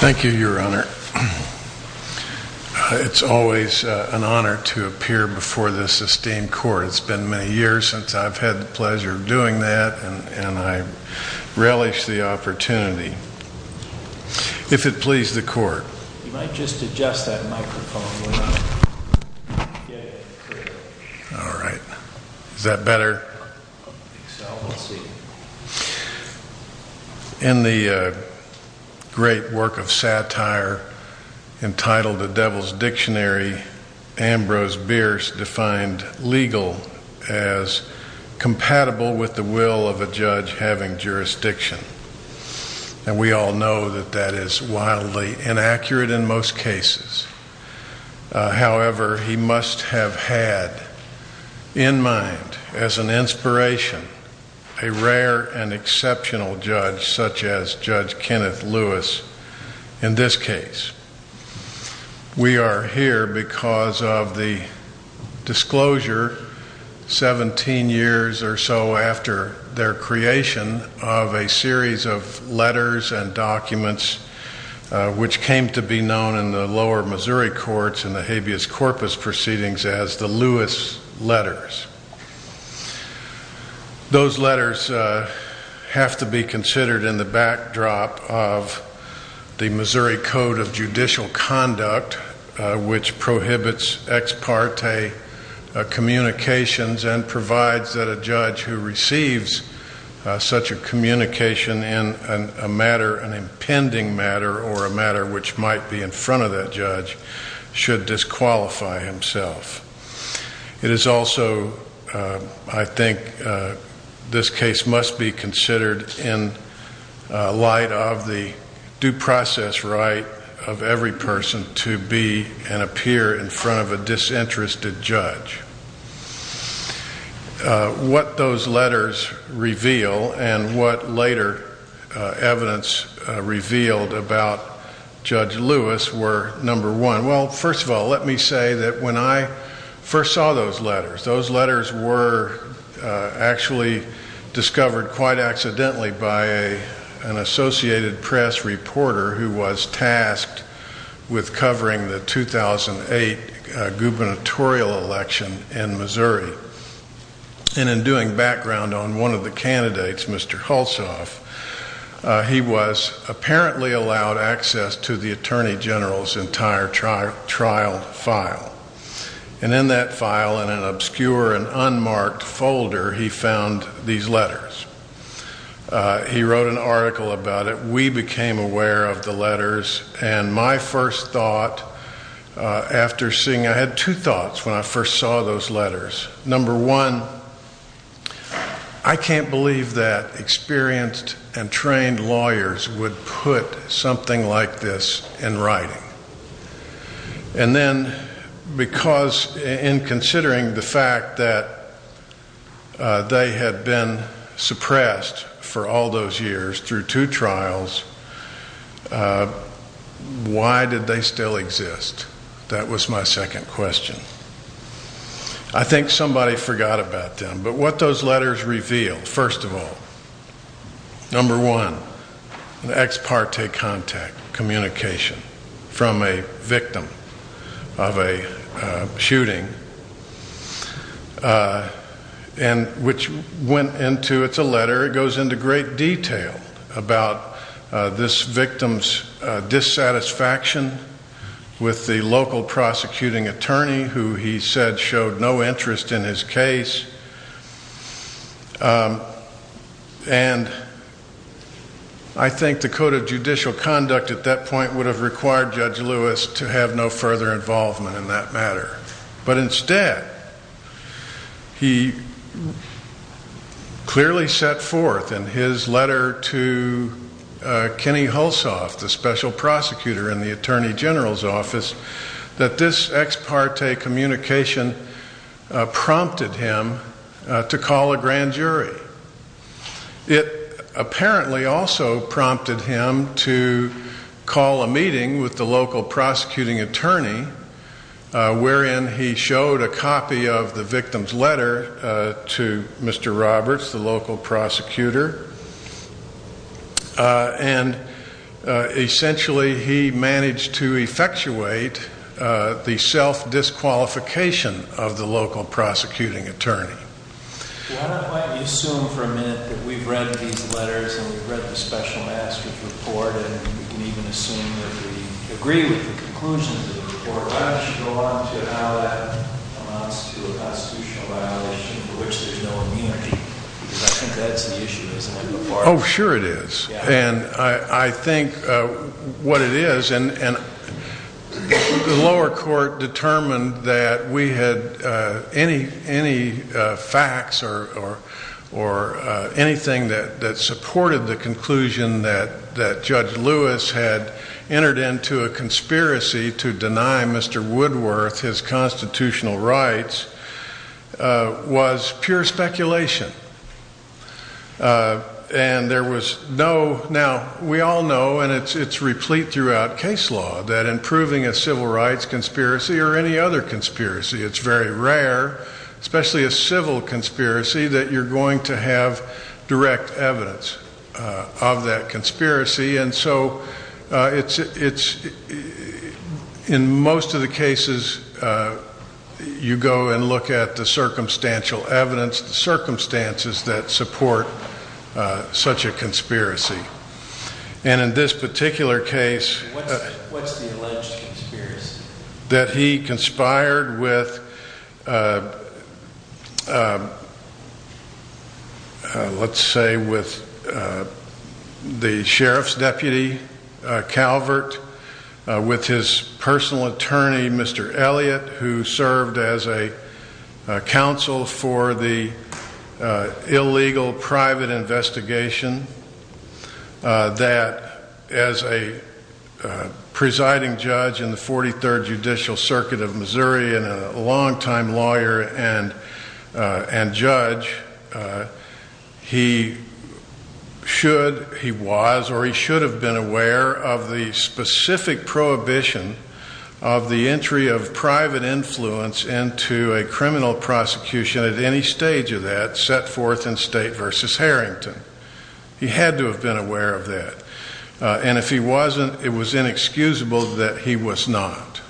Thank you your honor. It's always an honor to appear before the Sustained Court. It's been many years since I've had the pleasure of doing that and I better. In the great work of satire entitled The Devil's Dictionary, Ambrose Bierce defined legal as compatible with the will of a judge having jurisdiction. And we all know that that is wildly inaccurate in most cases. However, he must have had in mind as an inspiration a rare and exceptional judge such as Judge Kenneth Lewis in this case. We are here because of the disclosure 17 years or so after their creation of a series of letters and documents which came to be known in the lower Missouri courts in the habeas corpus proceedings as the Lewis letters. Those letters have to be considered in the backdrop of the Missouri Code of Judicial Conduct which prohibits ex parte communications and provides that a judge who receives such a communication in a matter, an impending matter or a matter which might be in front of that judge should disqualify himself. It is also, I think, this due process right of every person to be and appear in front of a disinterested judge. What those letters reveal and what later evidence revealed about Judge Lewis were number one. Well, first of all, let me say that when I first saw those letters, those letters were actually discovered quite accidentally by an Associated Press reporter who was tasked with covering the 2008 gubernatorial election in Missouri. And in doing background on one of the candidates, Mr. Hulsof, he was apparently allowed access to the Attorney General's entire trial file. And in that file, in an obscure and unmarked folder, he found these letters. He wrote an article about it. We became aware of the letters. And my first thought after seeing, I had two thoughts when I first saw those letters. Number one, I can't believe that then because in considering the fact that they had been suppressed for all those years through two trials, why did they still exist? That was my second question. I think somebody forgot about them. But what those letters revealed, first of all, number one, the ex parte contact, communication from a victim of a shooting. And which went into, it's a letter, it goes into great detail about this victim's dissatisfaction with the local prosecuting attorney who he said showed no interest in his case. And I think the code of judicial conduct at that point would have required Judge Lewis to have no further involvement in that matter. But instead, he clearly set forth in his letter to Kenny Hulsof, the special prosecutor in the Attorney General's office, and prompted him to call a grand jury. It apparently also prompted him to call a meeting with the local prosecuting attorney, wherein he showed a copy of the victim's letter to Mr. Roberts, the local prosecutor. And essentially, he managed to effectuate the self-disqualification of the local prosecuting attorney. Why don't you assume for a minute that we've read these letters and we've read the special master's report and we can even assume that we agree with the conclusion of the report. Why don't you go on to how that amounts to a constitutional violation for which there's no immunity? Because I think that's the issue, isn't it? Oh, sure it is. And I think what it is, and the lower court determined that we had any facts or anything that supported the conclusion that Judge Lewis had entered into a conspiracy to deny Mr. Woodworth his constitutional rights was pure speculation. And there was no, now we all know, and it's replete throughout case law, that in proving a civil rights conspiracy or any other conspiracy, it's very rare, especially a civil conspiracy, that you're going to you go and look at the circumstantial evidence, the circumstances that support such a conspiracy. And in this particular case, that he conspired with, let's say, with the sheriff's deputy, Calvert, with his personal attorney, Mr. Elliott, who served as a counsel for the illegal private investigation, that as a presiding judge in the 43rd Judicial Circuit of Missouri and a longtime lawyer and judge, he should, he was, or he should have been aware of the specific prohibition of the entry of private influence into a criminal prosecution at any stage of that set forth in State v. Harrington. He had to have been aware of that. And if he wasn't, it was inexcusable that he was not.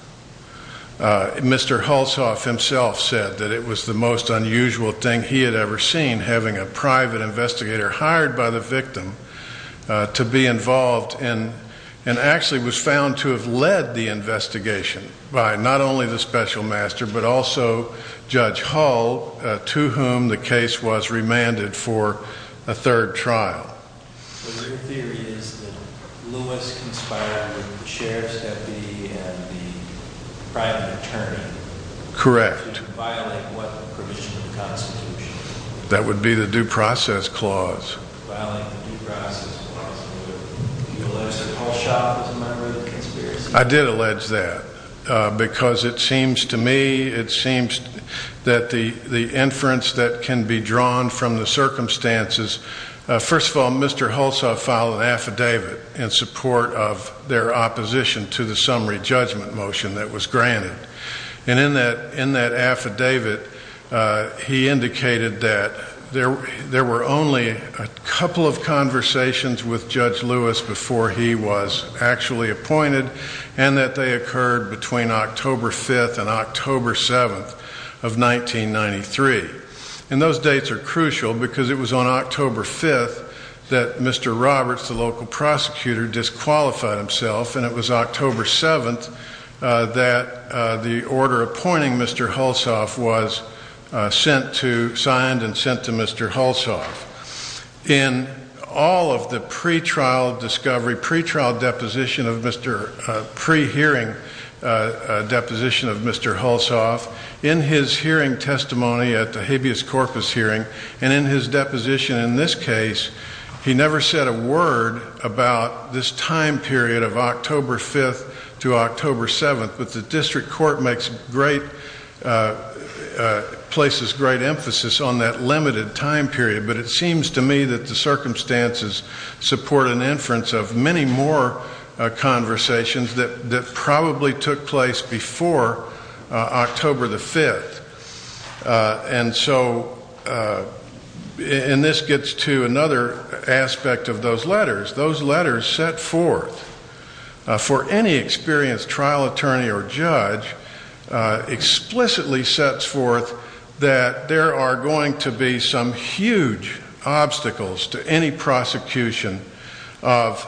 Mr. Hulshoff himself said that it was the most unusual thing he had ever seen, having a private investigator hired by the victim to be involved, and to have led the investigation by not only the special master, but also Judge Hull, to whom the case was remanded for a third trial. The theory is that Lewis conspired with the sheriff's deputy and the private attorney. Correct. To violate what provision of the Constitution? That would be the due process clause. Violating the due process clause. Did you allege that Hulshoff was a member of the conspiracy? I did allege that. Because it seems to me, it seems that the inference that can be drawn from the circumstances, first of all, Mr. Hulshoff filed an affidavit in support of their opposition to the summary judgment motion that was granted. And in that affidavit, he indicated that there were only a couple of conversations with Judge Lewis before he was actually appointed, and that they occurred between the time that Mr. Roberts, the local prosecutor, disqualified himself, and it was October 7th that the order appointing Mr. Hulshoff was sent to, signed and sent to Mr. Hulshoff. In all of the pre-trial discovery, pre-trial deposition of Mr., pre-hearing deposition of Mr. Hulshoff, in his hearing about this time period of October 5th to October 7th. But the district court makes great, places great emphasis on that limited time period. But it seems to me that the circumstances support an inference of many more conversations that probably took place before October the 5th. And so, and this gets to another aspect of those letters. Those letters set forth, for any experienced trial attorney or judge, explicitly sets forth that there are going to be some huge obstacles to any prosecution of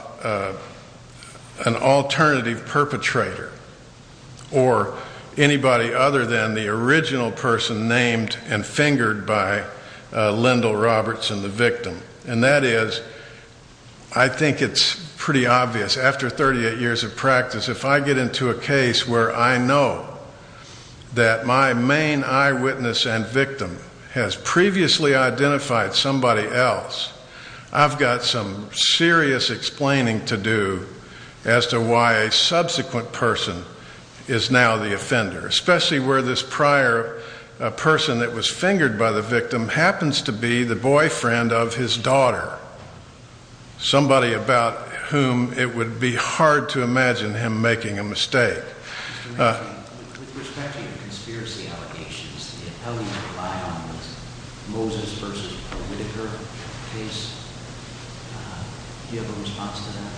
an alternative perpetrator or anybody other than the original person named and fingered by Lyndall Robertson, the victim. And that is I think it's pretty obvious, after 38 years of practice, if I get into a case where I know that my main eyewitness and victim has previously identified somebody else, I've got some serious explaining to do as to why a subsequent person is now the offender. Especially where this prior person that was fingered by the victim happens to be the boyfriend of his daughter. Somebody about whom it would be hard to imagine him making a mistake. With respect to your conspiracy allegations, how do you rely on this Moses versus Whitaker case? Do you have a response to that?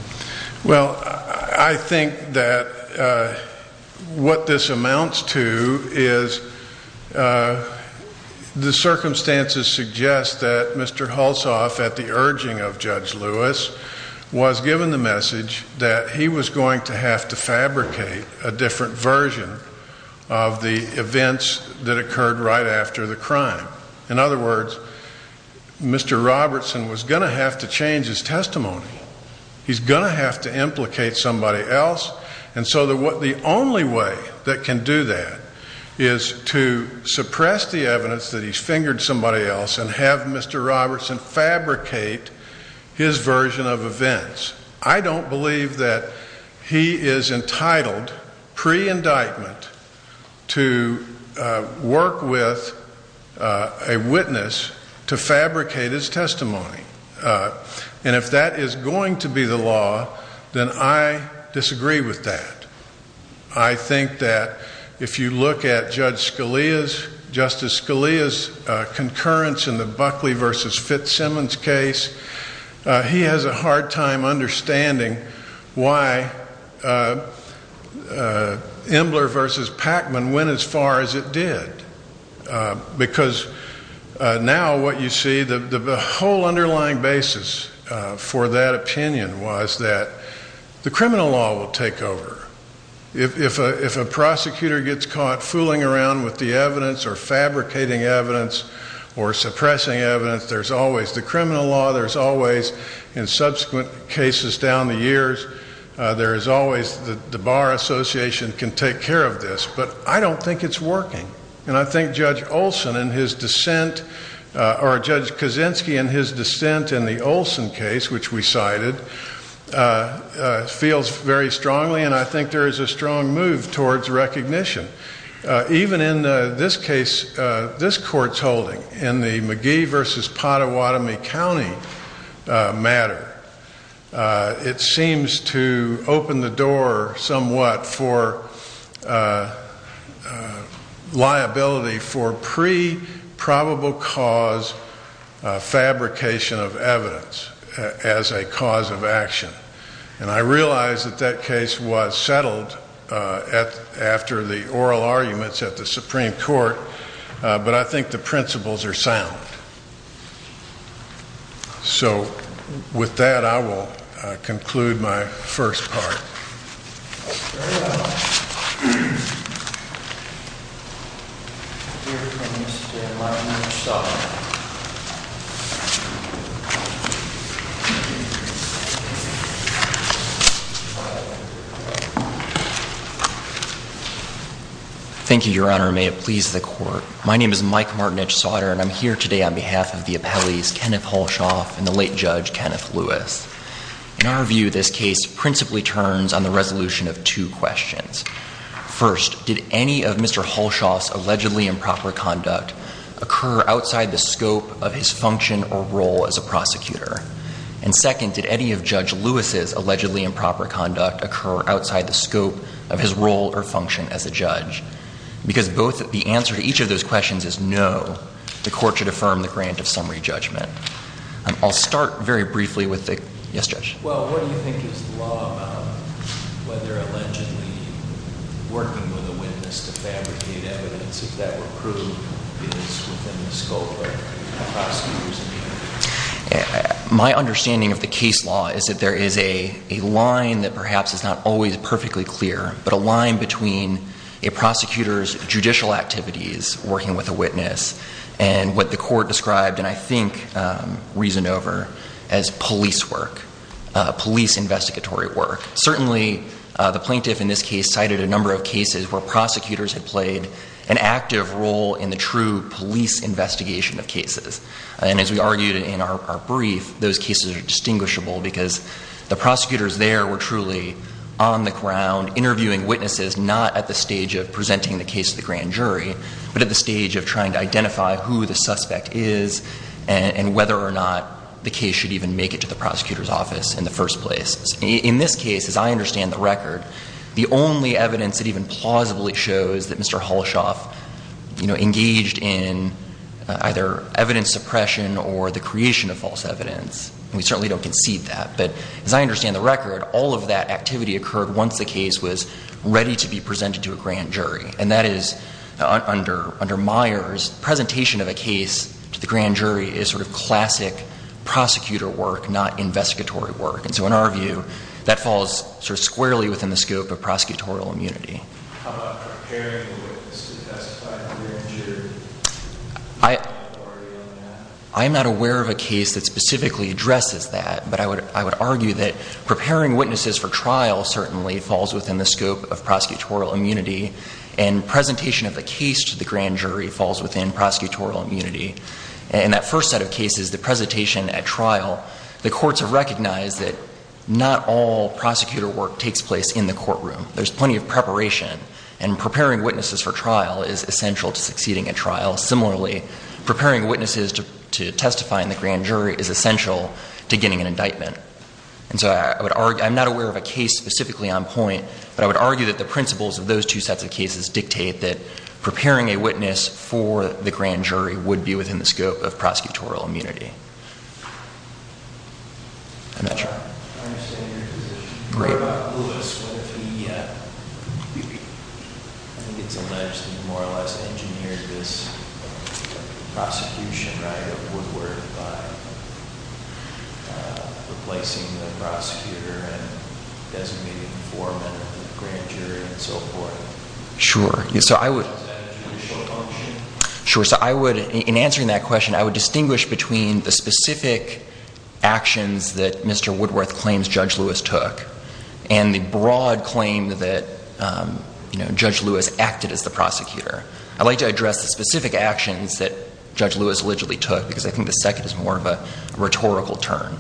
Well, I think that what this amounts to is the circumstances suggest that Mr. Hulsof, at the urging of Judge Lewis, was given the message that he was going to have to implicate somebody else. And so the only way that can do that is to suppress the evidence that he's fingered somebody else and have Mr. Robertson fabricate his version of events. I don't believe that he is entitled, pre-indictment, to work with a witness to fabricate his testimony. And if that is going to be the law, then I disagree with that. I think that if you look at Justice Scalia's concurrence in the Buckley versus Fitzsimmons case, he has a hard time understanding why Embler versus Pacman went as far as it did. Because now what you see, the whole underlying basis for that opinion was that the criminal law will take over. If a prosecutor gets caught fooling around with the evidence or fabricating evidence or suppressing evidence, there's always the criminal law, there's always, in subsequent cases down the years, there is always the Bar Association can take care of this. But I don't think it's working. And I think Judge Olson and his dissent, or Judge Kaczynski and his dissent in the Olson case, which we cited, feels very strongly and I think there is a strong move towards recognition. Even in this case, this court's holding, in the McGee versus Pottawatomie County matter, it seems to open the door somewhat for liability for pre-probable cause fabrication of evidence as a cause of action. And I realize that that case was settled after the oral arguments at the Supreme Court, but I think the principles are sound. So, with that, I will conclude my first part. Very well. Here comes Mr. Mike Martinich-Sauder. Thank you, Your Honor. May it please the Court. My name is Mike Martinich-Sauder, and I'm here today on behalf of the appellees, Kenneth Halshoff and the late Judge Kenneth Lewis. In our view, this case principally turns on the resolution of two questions. First, did any of Mr. Halshoff's allegedly improper conduct occur outside the scope of his function or role as a prosecutor? And second, did any of Judge Lewis's allegedly improper conduct occur outside the scope of his role or function as a judge? Because the answer to each of those questions is no, the Court should affirm the grant of summary judgment. I'll start very briefly with the – yes, Judge. Well, what do you think is the law about whether allegedly working with a witness to fabricate evidence, if that were proved, is within the scope of a prosecutor's duty? My understanding of the case law is that there is a line that perhaps is not always perfectly clear, but a line between a prosecutor's judicial activities, working with a witness, and what the Court described. And I think reasoned over as police work, police investigatory work. Certainly, the plaintiff in this case cited a number of cases where prosecutors had played an active role in the true police investigation of cases. And as we argued in our brief, those cases are distinguishable because the prosecutors there were truly on the ground interviewing witnesses, not at the stage of presenting the case to the grand jury, but at the stage of trying to identify who the suspect is and whether or not the case should even make it to the prosecutor's office in the first place. In this case, as I understand the record, the only evidence that even plausibly shows that Mr. Holshoff, you know, engaged in either evidence suppression or the creation of false evidence, and we certainly don't concede that. But as I understand the record, all of that activity occurred once the case was ready to be presented to a grand jury. And that is under Myers, presentation of a case to the grand jury is sort of classic prosecutor work, not investigatory work. And so in our view, that falls sort of squarely within the scope of prosecutorial immunity. How about preparing the witness to testify to the grand jury? I'm not aware of a case that specifically addresses that. But I would argue that preparing witnesses for trial certainly falls within the scope of prosecutorial immunity. And presentation of the case to the grand jury falls within prosecutorial immunity. In that first set of cases, the presentation at trial, the courts have recognized that not all prosecutor work takes place in the courtroom. There's plenty of preparation. And preparing witnesses for trial is essential to succeeding at trial. Similarly, preparing witnesses to testify in the grand jury is essential to getting an indictment. And so I'm not aware of a case specifically on point. But I would argue that the principles of those two sets of cases dictate that preparing a witness for the grand jury would be within the scope of prosecutorial immunity. I'm not sure. I understand your position. Great. What about Lewis? What if he, I think it's alleged, he more or less engineered this prosecution right of Woodward by replacing the prosecutor and designating four men for the grand jury and so forth? Sure. Is that a judicial function? Sure. So I would, in answering that question, I would distinguish between the specific actions that Mr. Woodworth claims Judge Lewis took and the broad claim that, you know, Judge Lewis acted as the prosecutor. I'd like to address the specific actions that Judge Lewis allegedly took because I think the second is more of a rhetorical turn.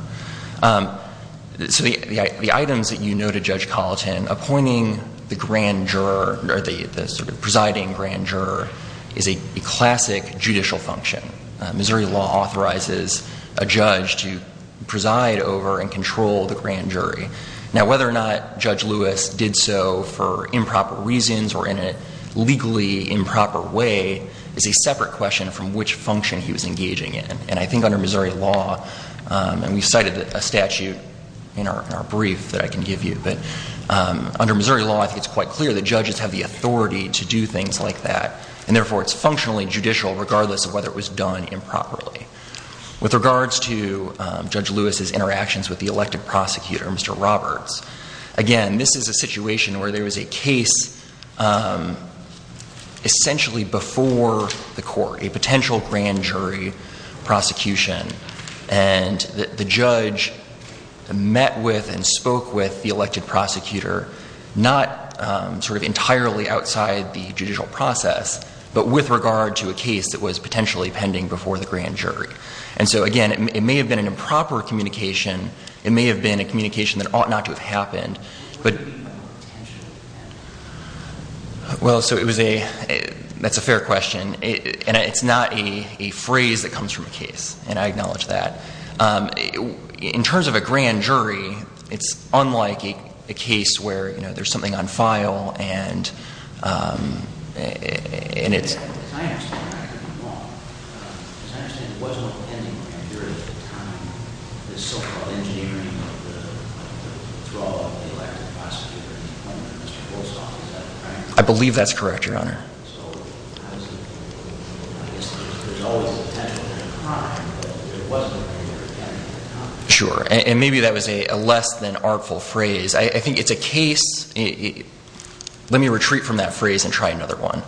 So the items that you noted, Judge Colleton, appointing the grand juror or the sort of presiding grand juror is a classic judicial function. Missouri law authorizes a judge to preside over and control the grand jury. Now, whether or not Judge Lewis did so for improper reasons or in a legally improper way is a separate question from which function he was engaging in. And I think under Missouri law, and we cited a statute in our brief that I can give you, but under Missouri law, I think it's quite clear that judges have the authority to do things like that. And therefore, it's functionally judicial regardless of whether it was done improperly. With regards to Judge Lewis's interactions with the elected prosecutor, Mr. Roberts, again, this is a situation where there was a case essentially before the court. A potential grand jury prosecution. And the judge met with and spoke with the elected prosecutor, not sort of entirely outside the judicial process, but with regard to a case that was potentially pending before the grand jury. And so, again, it may have been an improper communication. It may have been a communication that ought not to have happened. Well, so it was a – that's a fair question. And it's not a phrase that comes from a case, and I acknowledge that. In terms of a grand jury, it's unlike a case where, you know, there's something on file and it's – As I understand it, it wasn't a pending grand jury at the time. The so-called engineering of the thrall of the elected prosecutor, Mr. Goldstock, is that correct? I believe that's correct, Your Honor. So, obviously, there's always a potential grand jury crime, but it wasn't a pending grand jury crime. Sure. And maybe that was a less than artful phrase. I think it's a case – let me retreat from that phrase and try another one.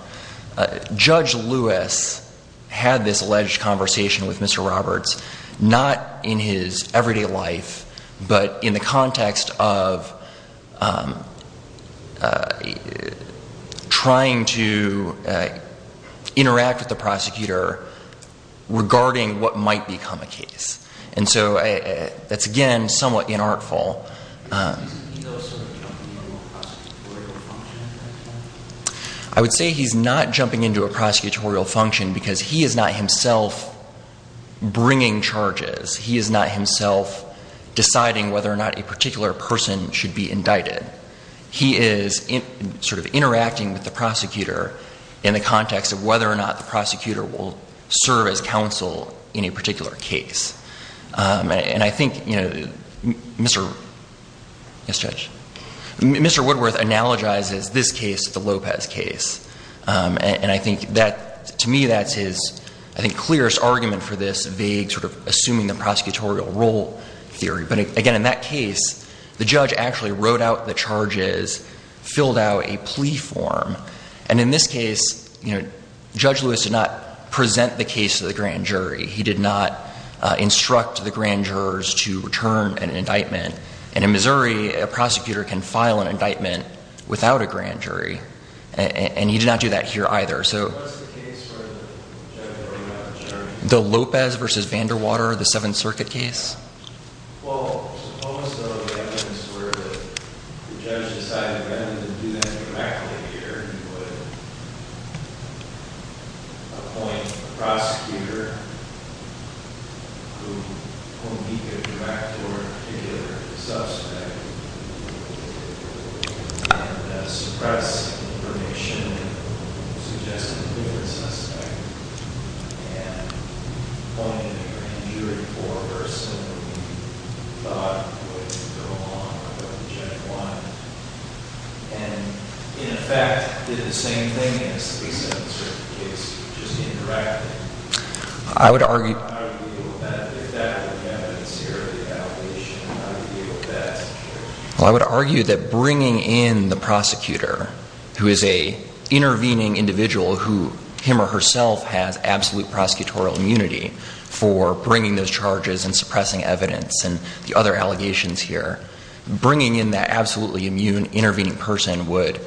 Judge Lewis had this alleged conversation with Mr. Roberts, not in his everyday life, but in the context of trying to interact with the prosecutor regarding what might become a case. And so that's, again, somewhat inartful. Isn't he, though, sort of jumping into a prosecutorial function at that point? I would say he's not jumping into a prosecutorial function because he is not himself bringing charges. He is not himself deciding whether or not a particular person should be indicted. He is sort of interacting with the prosecutor in the context of whether or not the prosecutor will serve as counsel in a particular case. And I think, you know, Mr. – yes, Judge? Mr. Woodworth analogizes this case to the Lopez case. And I think that, to me, that's his, I think, clearest argument for this vague sort of assuming the prosecutorial role theory. But, again, in that case, the judge actually wrote out the charges, filled out a plea form. And in this case, you know, Judge Lewis did not present the case to the grand jury. He did not instruct the grand jurors to return an indictment. And in Missouri, a prosecutor can file an indictment without a grand jury. And he did not do that here either. What's the case where the judge wrote out the charges? The Lopez v. Vanderwater, the Seventh Circuit case? Well, suppose, though, the evidence were that the judge decided rather than do that directly here, he would appoint a prosecutor whom he could direct toward a particular suspect and suppress information suggesting a different suspect and appoint a grand jury for a person who he thought would go along with what the judge wanted. And, in effect, did the same thing as the Seventh Circuit case, just interacted. I would argue – Or how would you deal with that if that were the evidence here or the allegation? How would you deal with that? Well, I would argue that bringing in the prosecutor, who is an intervening individual who, him or herself, has absolute prosecutorial immunity for bringing those charges and suppressing evidence and the other allegations here, bringing in that absolutely immune intervening person would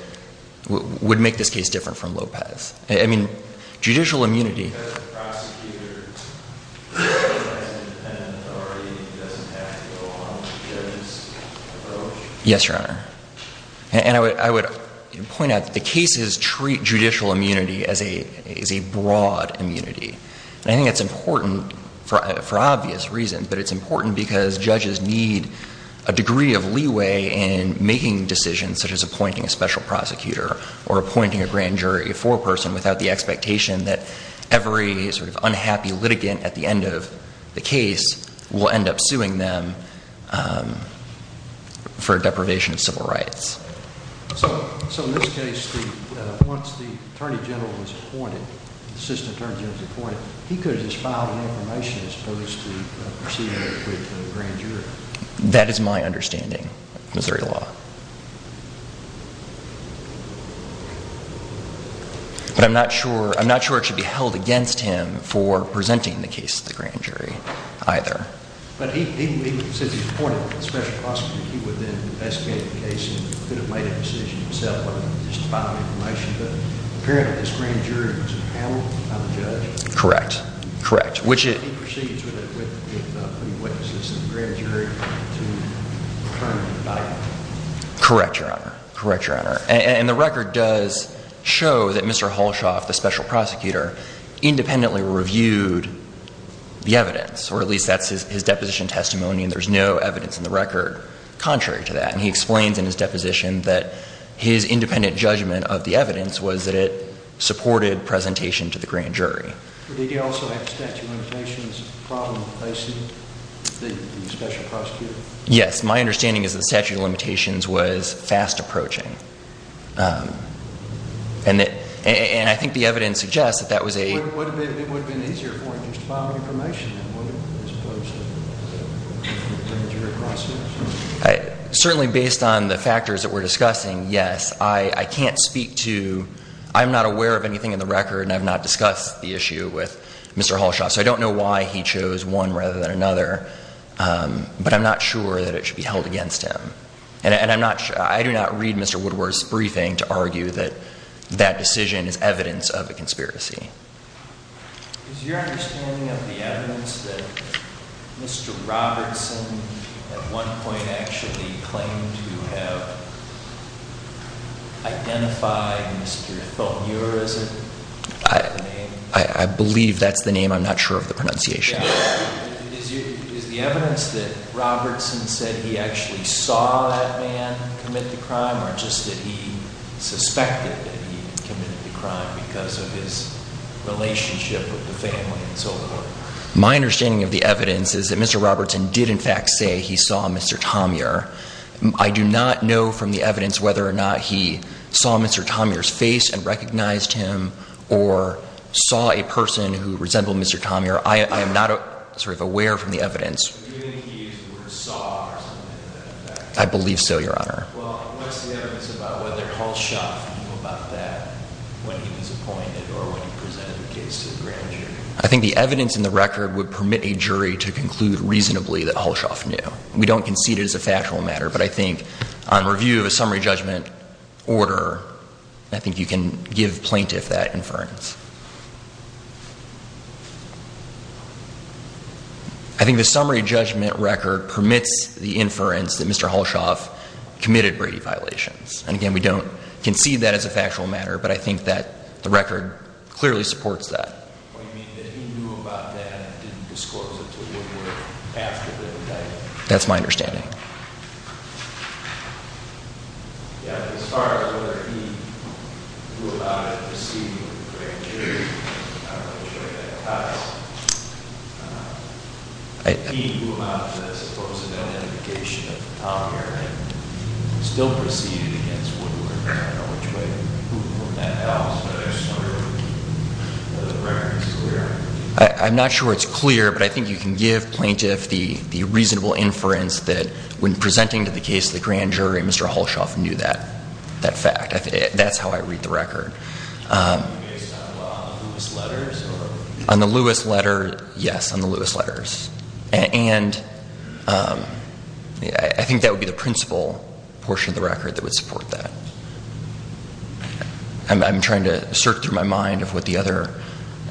make this case different from Lopez. I mean, judicial immunity – Just because the prosecutor has independent authority doesn't have to go along with the judge's approach? Yes, Your Honor. And I would point out that the cases treat judicial immunity as a broad immunity. And I think it's important for obvious reasons, but it's important because judges need a degree of leeway in making decisions such as appointing a special prosecutor or appointing a grand jury for a person without the expectation that every sort of unhappy litigant at the end of the case will end up suing them for a deprivation of civil rights. So, in this case, once the attorney general was appointed, the assistant attorney general was appointed, he could have just filed an information as opposed to proceeding with the grand jury? That is my understanding of Missouri law. But I'm not sure – I'm not sure it should be held against him for presenting the case to the grand jury either. But he said he appointed a special prosecutor. He would then investigate the case and could have made a decision himself whether to just file information, but apparently this grand jury was handled by the judge. Correct. Correct. He proceeds with putting witnesses in the grand jury to determine the body. Correct, Your Honor. Correct, Your Honor. And the record does show that Mr. Holshoff, the special prosecutor, independently reviewed the evidence, or at least that's his deposition testimony, and there's no evidence in the record contrary to that. And he explains in his deposition that his independent judgment of the evidence was that it supported presentation to the grand jury. Did he also have statute of limitations problem facing the special prosecutor? Yes. My understanding is that statute of limitations was fast approaching. And I think the evidence suggests that that was a – It would have been easier for him just to file information as opposed to the grand jury process? Certainly based on the factors that we're discussing, yes. I can't speak to – I'm not aware of anything in the record, and I've not discussed the issue with Mr. Holshoff, so I don't know why he chose one rather than another, but I'm not sure that it should be held against him. And I'm not – I do not read Mr. Woodward's briefing to argue that that decision is evidence of a conspiracy. Is your understanding of the evidence that Mr. Robertson at one point actually claimed to have identified Mr. Thomeur, is it? I believe that's the name. I'm not sure of the pronunciation. Is the evidence that Robertson said he actually saw that man commit the crime, or just that he suspected that he committed the crime because of his relationship with the family and so forth? My understanding of the evidence is that Mr. Robertson did in fact say he saw Mr. Thomeur. I do not know from the evidence whether or not he saw Mr. Thomeur's face and recognized him or saw a person who resembled Mr. Thomeur. I am not sort of aware from the evidence. Do you think he saw or something like that? I believe so, Your Honor. Well, what's the evidence about whether Halshoff knew about that when he was appointed or when he presented the case to the grand jury? I think the evidence in the record would permit a jury to conclude reasonably that Halshoff knew. We don't concede it as a factual matter, but I think on review of a summary judgment order, I think the summary judgment record permits the inference that Mr. Halshoff committed Brady violations. And again, we don't concede that as a factual matter, but I think that the record clearly supports that. Well, you mean that he knew about that and didn't discourse it to the court after the indictment? That's my understanding. Yeah, as far as whether he knew about it preceding the grand jury, I'm not sure that applies. He knew about the supposed identification of Thomeur and still proceeded against Woodward. I don't know which way that goes, but I'm just wondering whether the reference is clear. I'm not sure it's clear, but I think you can give plaintiffs the reasonable inference that when presenting the case to the grand jury, Mr. Halshoff knew that fact. That's how I read the record. Based on the Lewis letters? On the Lewis letters, yes, on the Lewis letters. And I think that would be the principal portion of the record that would support that. I'm trying to search through my mind of what the other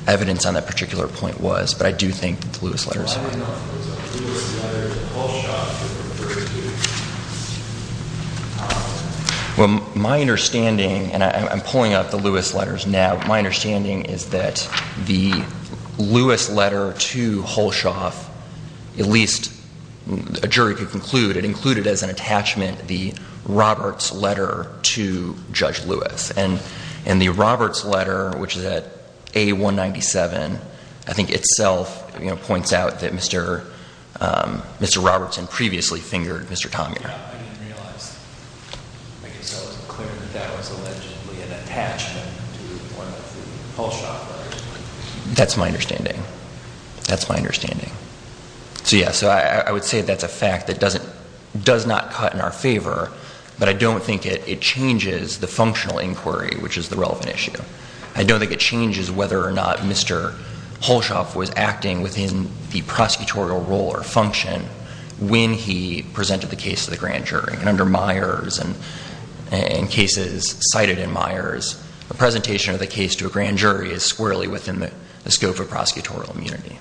evidence on that particular point was, but I do think the Lewis letters. Well, my understanding, and I'm pulling out the Lewis letters now, my understanding is that the Lewis letter to Halshoff, at least a jury could conclude, it included as an attachment the Roberts letter to Judge Lewis. And the Roberts letter, which is at A197, I think itself points out that Mr. Robertson previously fingered Mr. Thomeur. I didn't realize, to make it so clear, that that was allegedly an attachment to one of the Halshoff letters. That's my understanding. That's my understanding. So, yes, I would say that's a fact that does not cut in our favor, but I don't think it changes the functional inquiry, which is the relevant issue. I don't think it changes whether or not Mr. Halshoff was acting within the prosecutorial role or function when he presented the case to the grand jury. And under Myers and cases cited in Myers, a presentation of the case to a grand jury is squarely within the scope of prosecutorial immunity.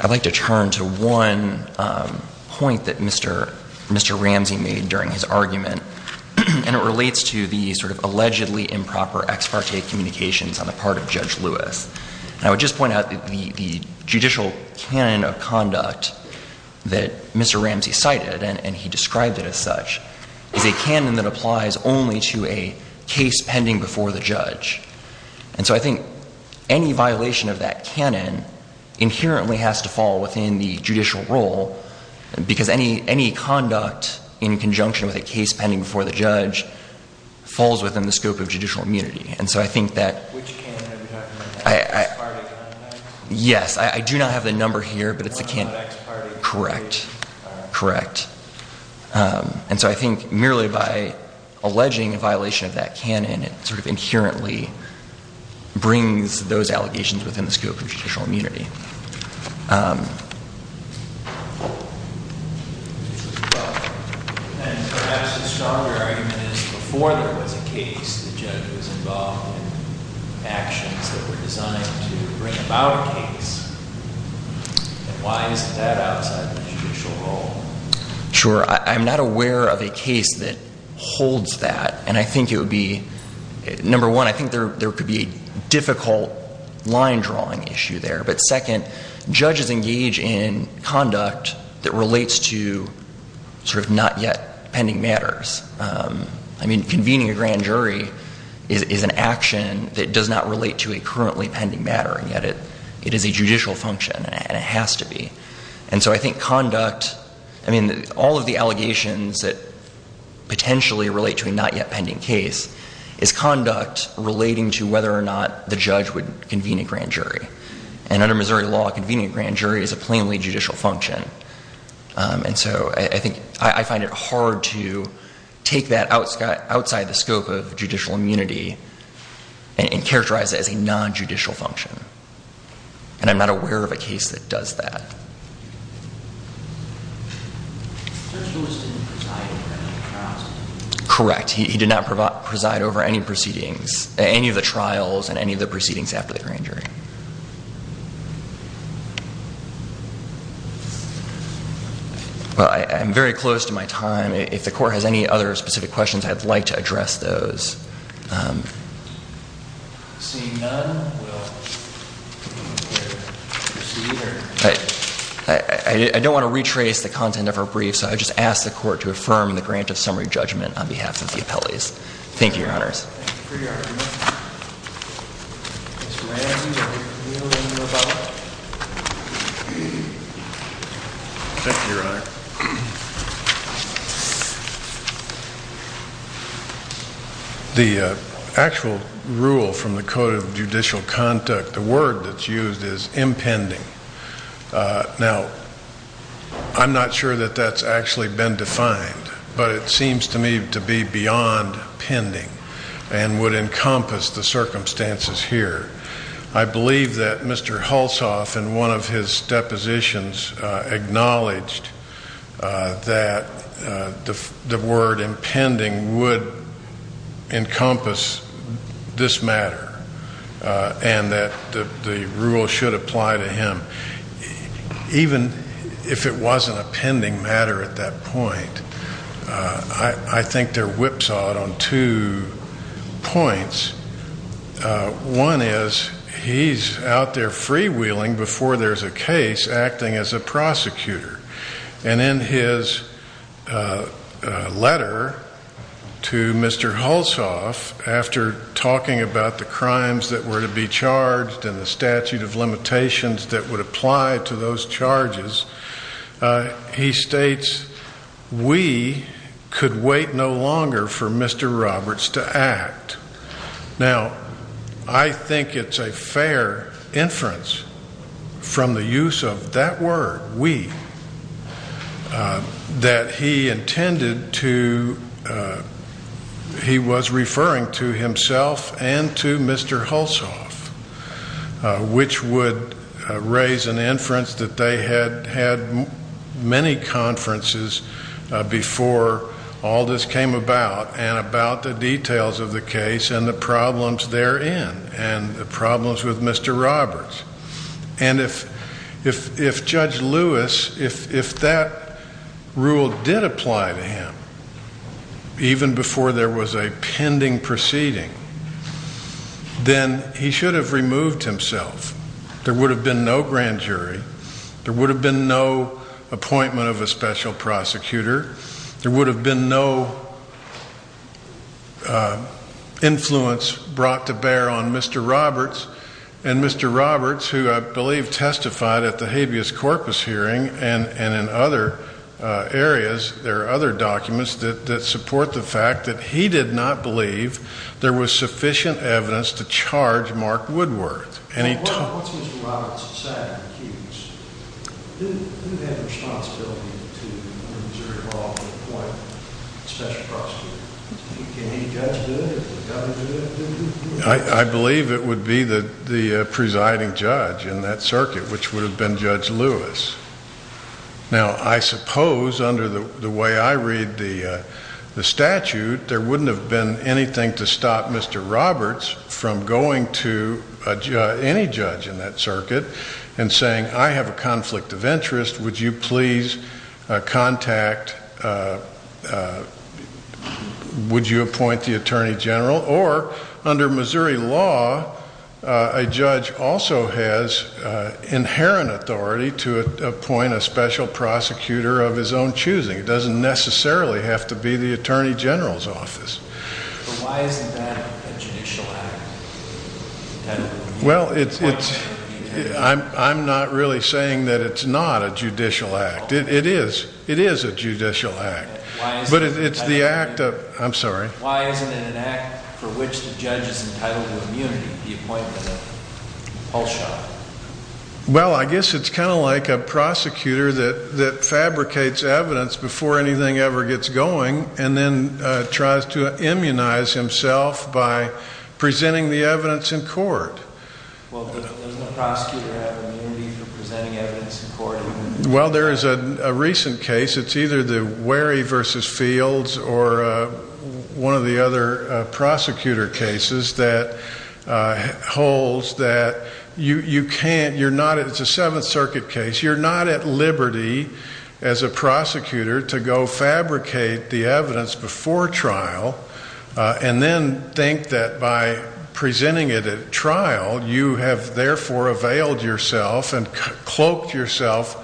I'd like to turn to one point that Mr. Ramsey made during his argument, and it relates to the sort of allegedly improper ex parte communications on the part of Judge Lewis. And I would just point out that the judicial canon of conduct that Mr. Ramsey cited, and he described it as such, is a canon that applies only to a case pending before the judge. And so I think any violation of that canon inherently has to fall within the judicial role because any conduct in conjunction with a case pending before the judge falls within the scope of judicial immunity. And so I think that... Which canon are you talking about? Yes, I do not have the number here, but it's a canon. Correct, correct. And so I think merely by alleging a violation of that canon, it sort of inherently brings those allegations within the scope of judicial immunity. And perhaps a stronger argument is before there was a case, the judge was involved in actions that were designed to bring about a case. Why is that outside the judicial role? Sure, I'm not aware of a case that holds that. And I think it would be... Number one, I think there could be a difficult line drawing issue there. But second, judges engage in conduct that relates to sort of not yet pending matters. I mean, convening a grand jury is an action that does not relate to a currently pending matter. And yet it is a judicial function, and it has to be. And so I think conduct... I mean, all of the allegations that potentially relate to a not yet pending case is conduct relating to whether or not the judge would convene a grand jury. And under Missouri law, convening a grand jury is a plainly judicial function. And so I think I find it hard to take that outside the scope of judicial immunity and characterize it as a non-judicial function. And I'm not aware of a case that does that. Correct, he did not preside over any proceedings, any of the trials and any of the proceedings after the grand jury. Well, I'm very close to my time. If the court has any other specific questions, I'd like to address those. I don't want to retrace the content of our brief, so I just ask the court to affirm the grant of summary judgment on behalf of the appellees. Thank you, Your Honors. The actual rule from the Code of Judicial Conduct, the word that's used is impending. Now, I'm not sure that that's actually been defined, but it seems to me to be beyond pending and would encompass the circumstances here. I believe that Mr. Hulsof, in one of his depositions, acknowledged that the word impending would encompass this matter and that the rule should apply to him. Even if it wasn't a pending matter at that point, I think there whipsawed on two points. One is he's out there freewheeling before there's a case acting as a prosecutor. And in his letter to Mr. Hulsof, after talking about the crimes that were to be charged and the statute of limitations that would apply to those charges, he states, we could wait no longer for Mr. Roberts to act. Now, I think it's a fair inference from the use of that word, we, that he intended to he was referring to himself and to Mr. Hulsof, which would raise an inference that they had had many conferences before all this came about and about the details of the case and the problems therein and the problems with Mr. Roberts. And if Judge Lewis, if that rule did apply to him, even before there was a pending proceeding, then he should have removed himself. There would have been no grand jury. There would have been no appointment of a special prosecutor. There would have been no influence brought to bear on Mr. Roberts. And Mr. Roberts, who I believe testified at the habeas corpus hearing and in other areas, there are other documents that support the fact that he did not believe there was sufficient evidence to charge Mark Woodward. What's Mr. Roberts' sad excuse? He didn't have responsibility to remove himself or appoint a special prosecutor. Can any judge do it? Does the government do it? I believe it would be the presiding judge in that circuit, which would have been Judge Lewis. Now, I suppose under the way I read the statute, there wouldn't have been anything to stop Mr. Roberts from going to any judge in that circuit and saying, I have a conflict of interest, would you please contact, would you appoint the attorney general? Or under Missouri law, a judge also has inherent authority to appoint a special prosecutor of his own choosing. It doesn't necessarily have to be the attorney general's office. But why isn't that a judicial act? Well, I'm not really saying that it's not a judicial act. It is. It is a judicial act. But it's the act of, I'm sorry. Why isn't it an act for which the judge is entitled to immunity, the appointment of a pulse shot? Well, I guess it's kind of like a prosecutor that fabricates evidence before anything ever gets going and then tries to immunize himself by presenting the evidence in court. Well, doesn't a prosecutor have immunity for presenting evidence in court? Well, there is a recent case, it's either the Wary v. Fields or one of the other prosecutor cases that holds that you can't, you're not, it's a Seventh Circuit case, you're not at liberty as a prosecutor to go fabricate the evidence before trial and then think that by presenting it at trial, you have therefore availed yourself and cloaked yourself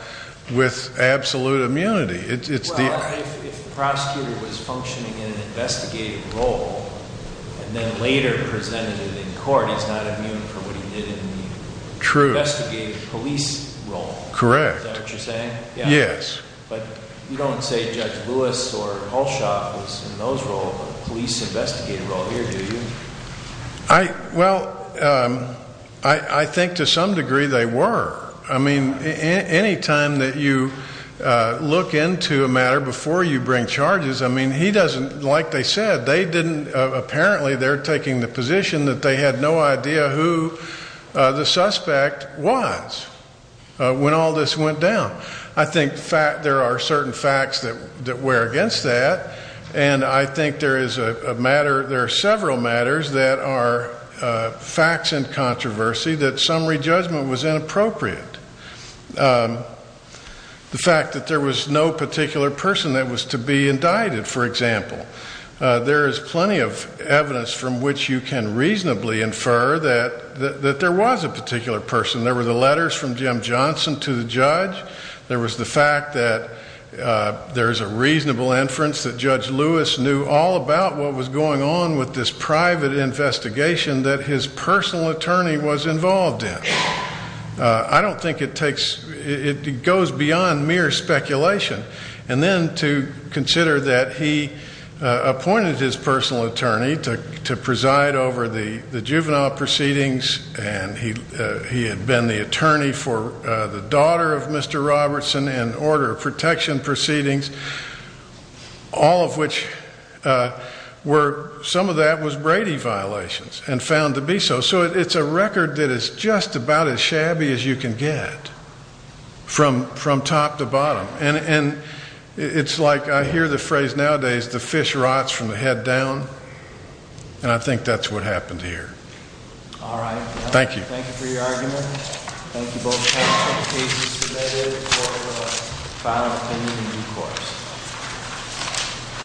with absolute immunity. Well, if the prosecutor was functioning in an investigative role and then later presented it in court, he's not immune from what he did in the investigative police role. Correct. Is that what you're saying? Yes. But you don't say Judge Lewis or Pulse Shot was in those roles, the police investigative role here, do you? Well, I think to some degree they were. I mean, any time that you look into a matter before you bring charges, I mean, he doesn't, like they said, they didn't, apparently they're taking the position that they had no idea who the suspect was when all this went down. I think there are certain facts that wear against that, and I think there is a matter, there are several matters that are facts in controversy that summary judgment was inappropriate. The fact that there was no particular person that was to be indicted, for example. There is plenty of evidence from which you can reasonably infer that there was a particular person. There were the letters from Jim Johnson to the judge. There was the fact that there is a reasonable inference that Judge Lewis knew all about what was going on with this private investigation that his personal attorney was involved in. I don't think it takes, it goes beyond mere speculation. And then to consider that he appointed his personal attorney to preside over the juvenile proceedings, and he had been the attorney for the daughter of Mr. Robertson in order of protection proceedings, all of which were, some of that was Brady violations and found to be so. So it's a record that is just about as shabby as you can get from top to bottom. And it's like I hear the phrase nowadays, the fish rots from the head down, and I think that's what happened here. All right. Thank you. Thank you for your argument. Thank you both. And please be submitted for the final opinion and recourse.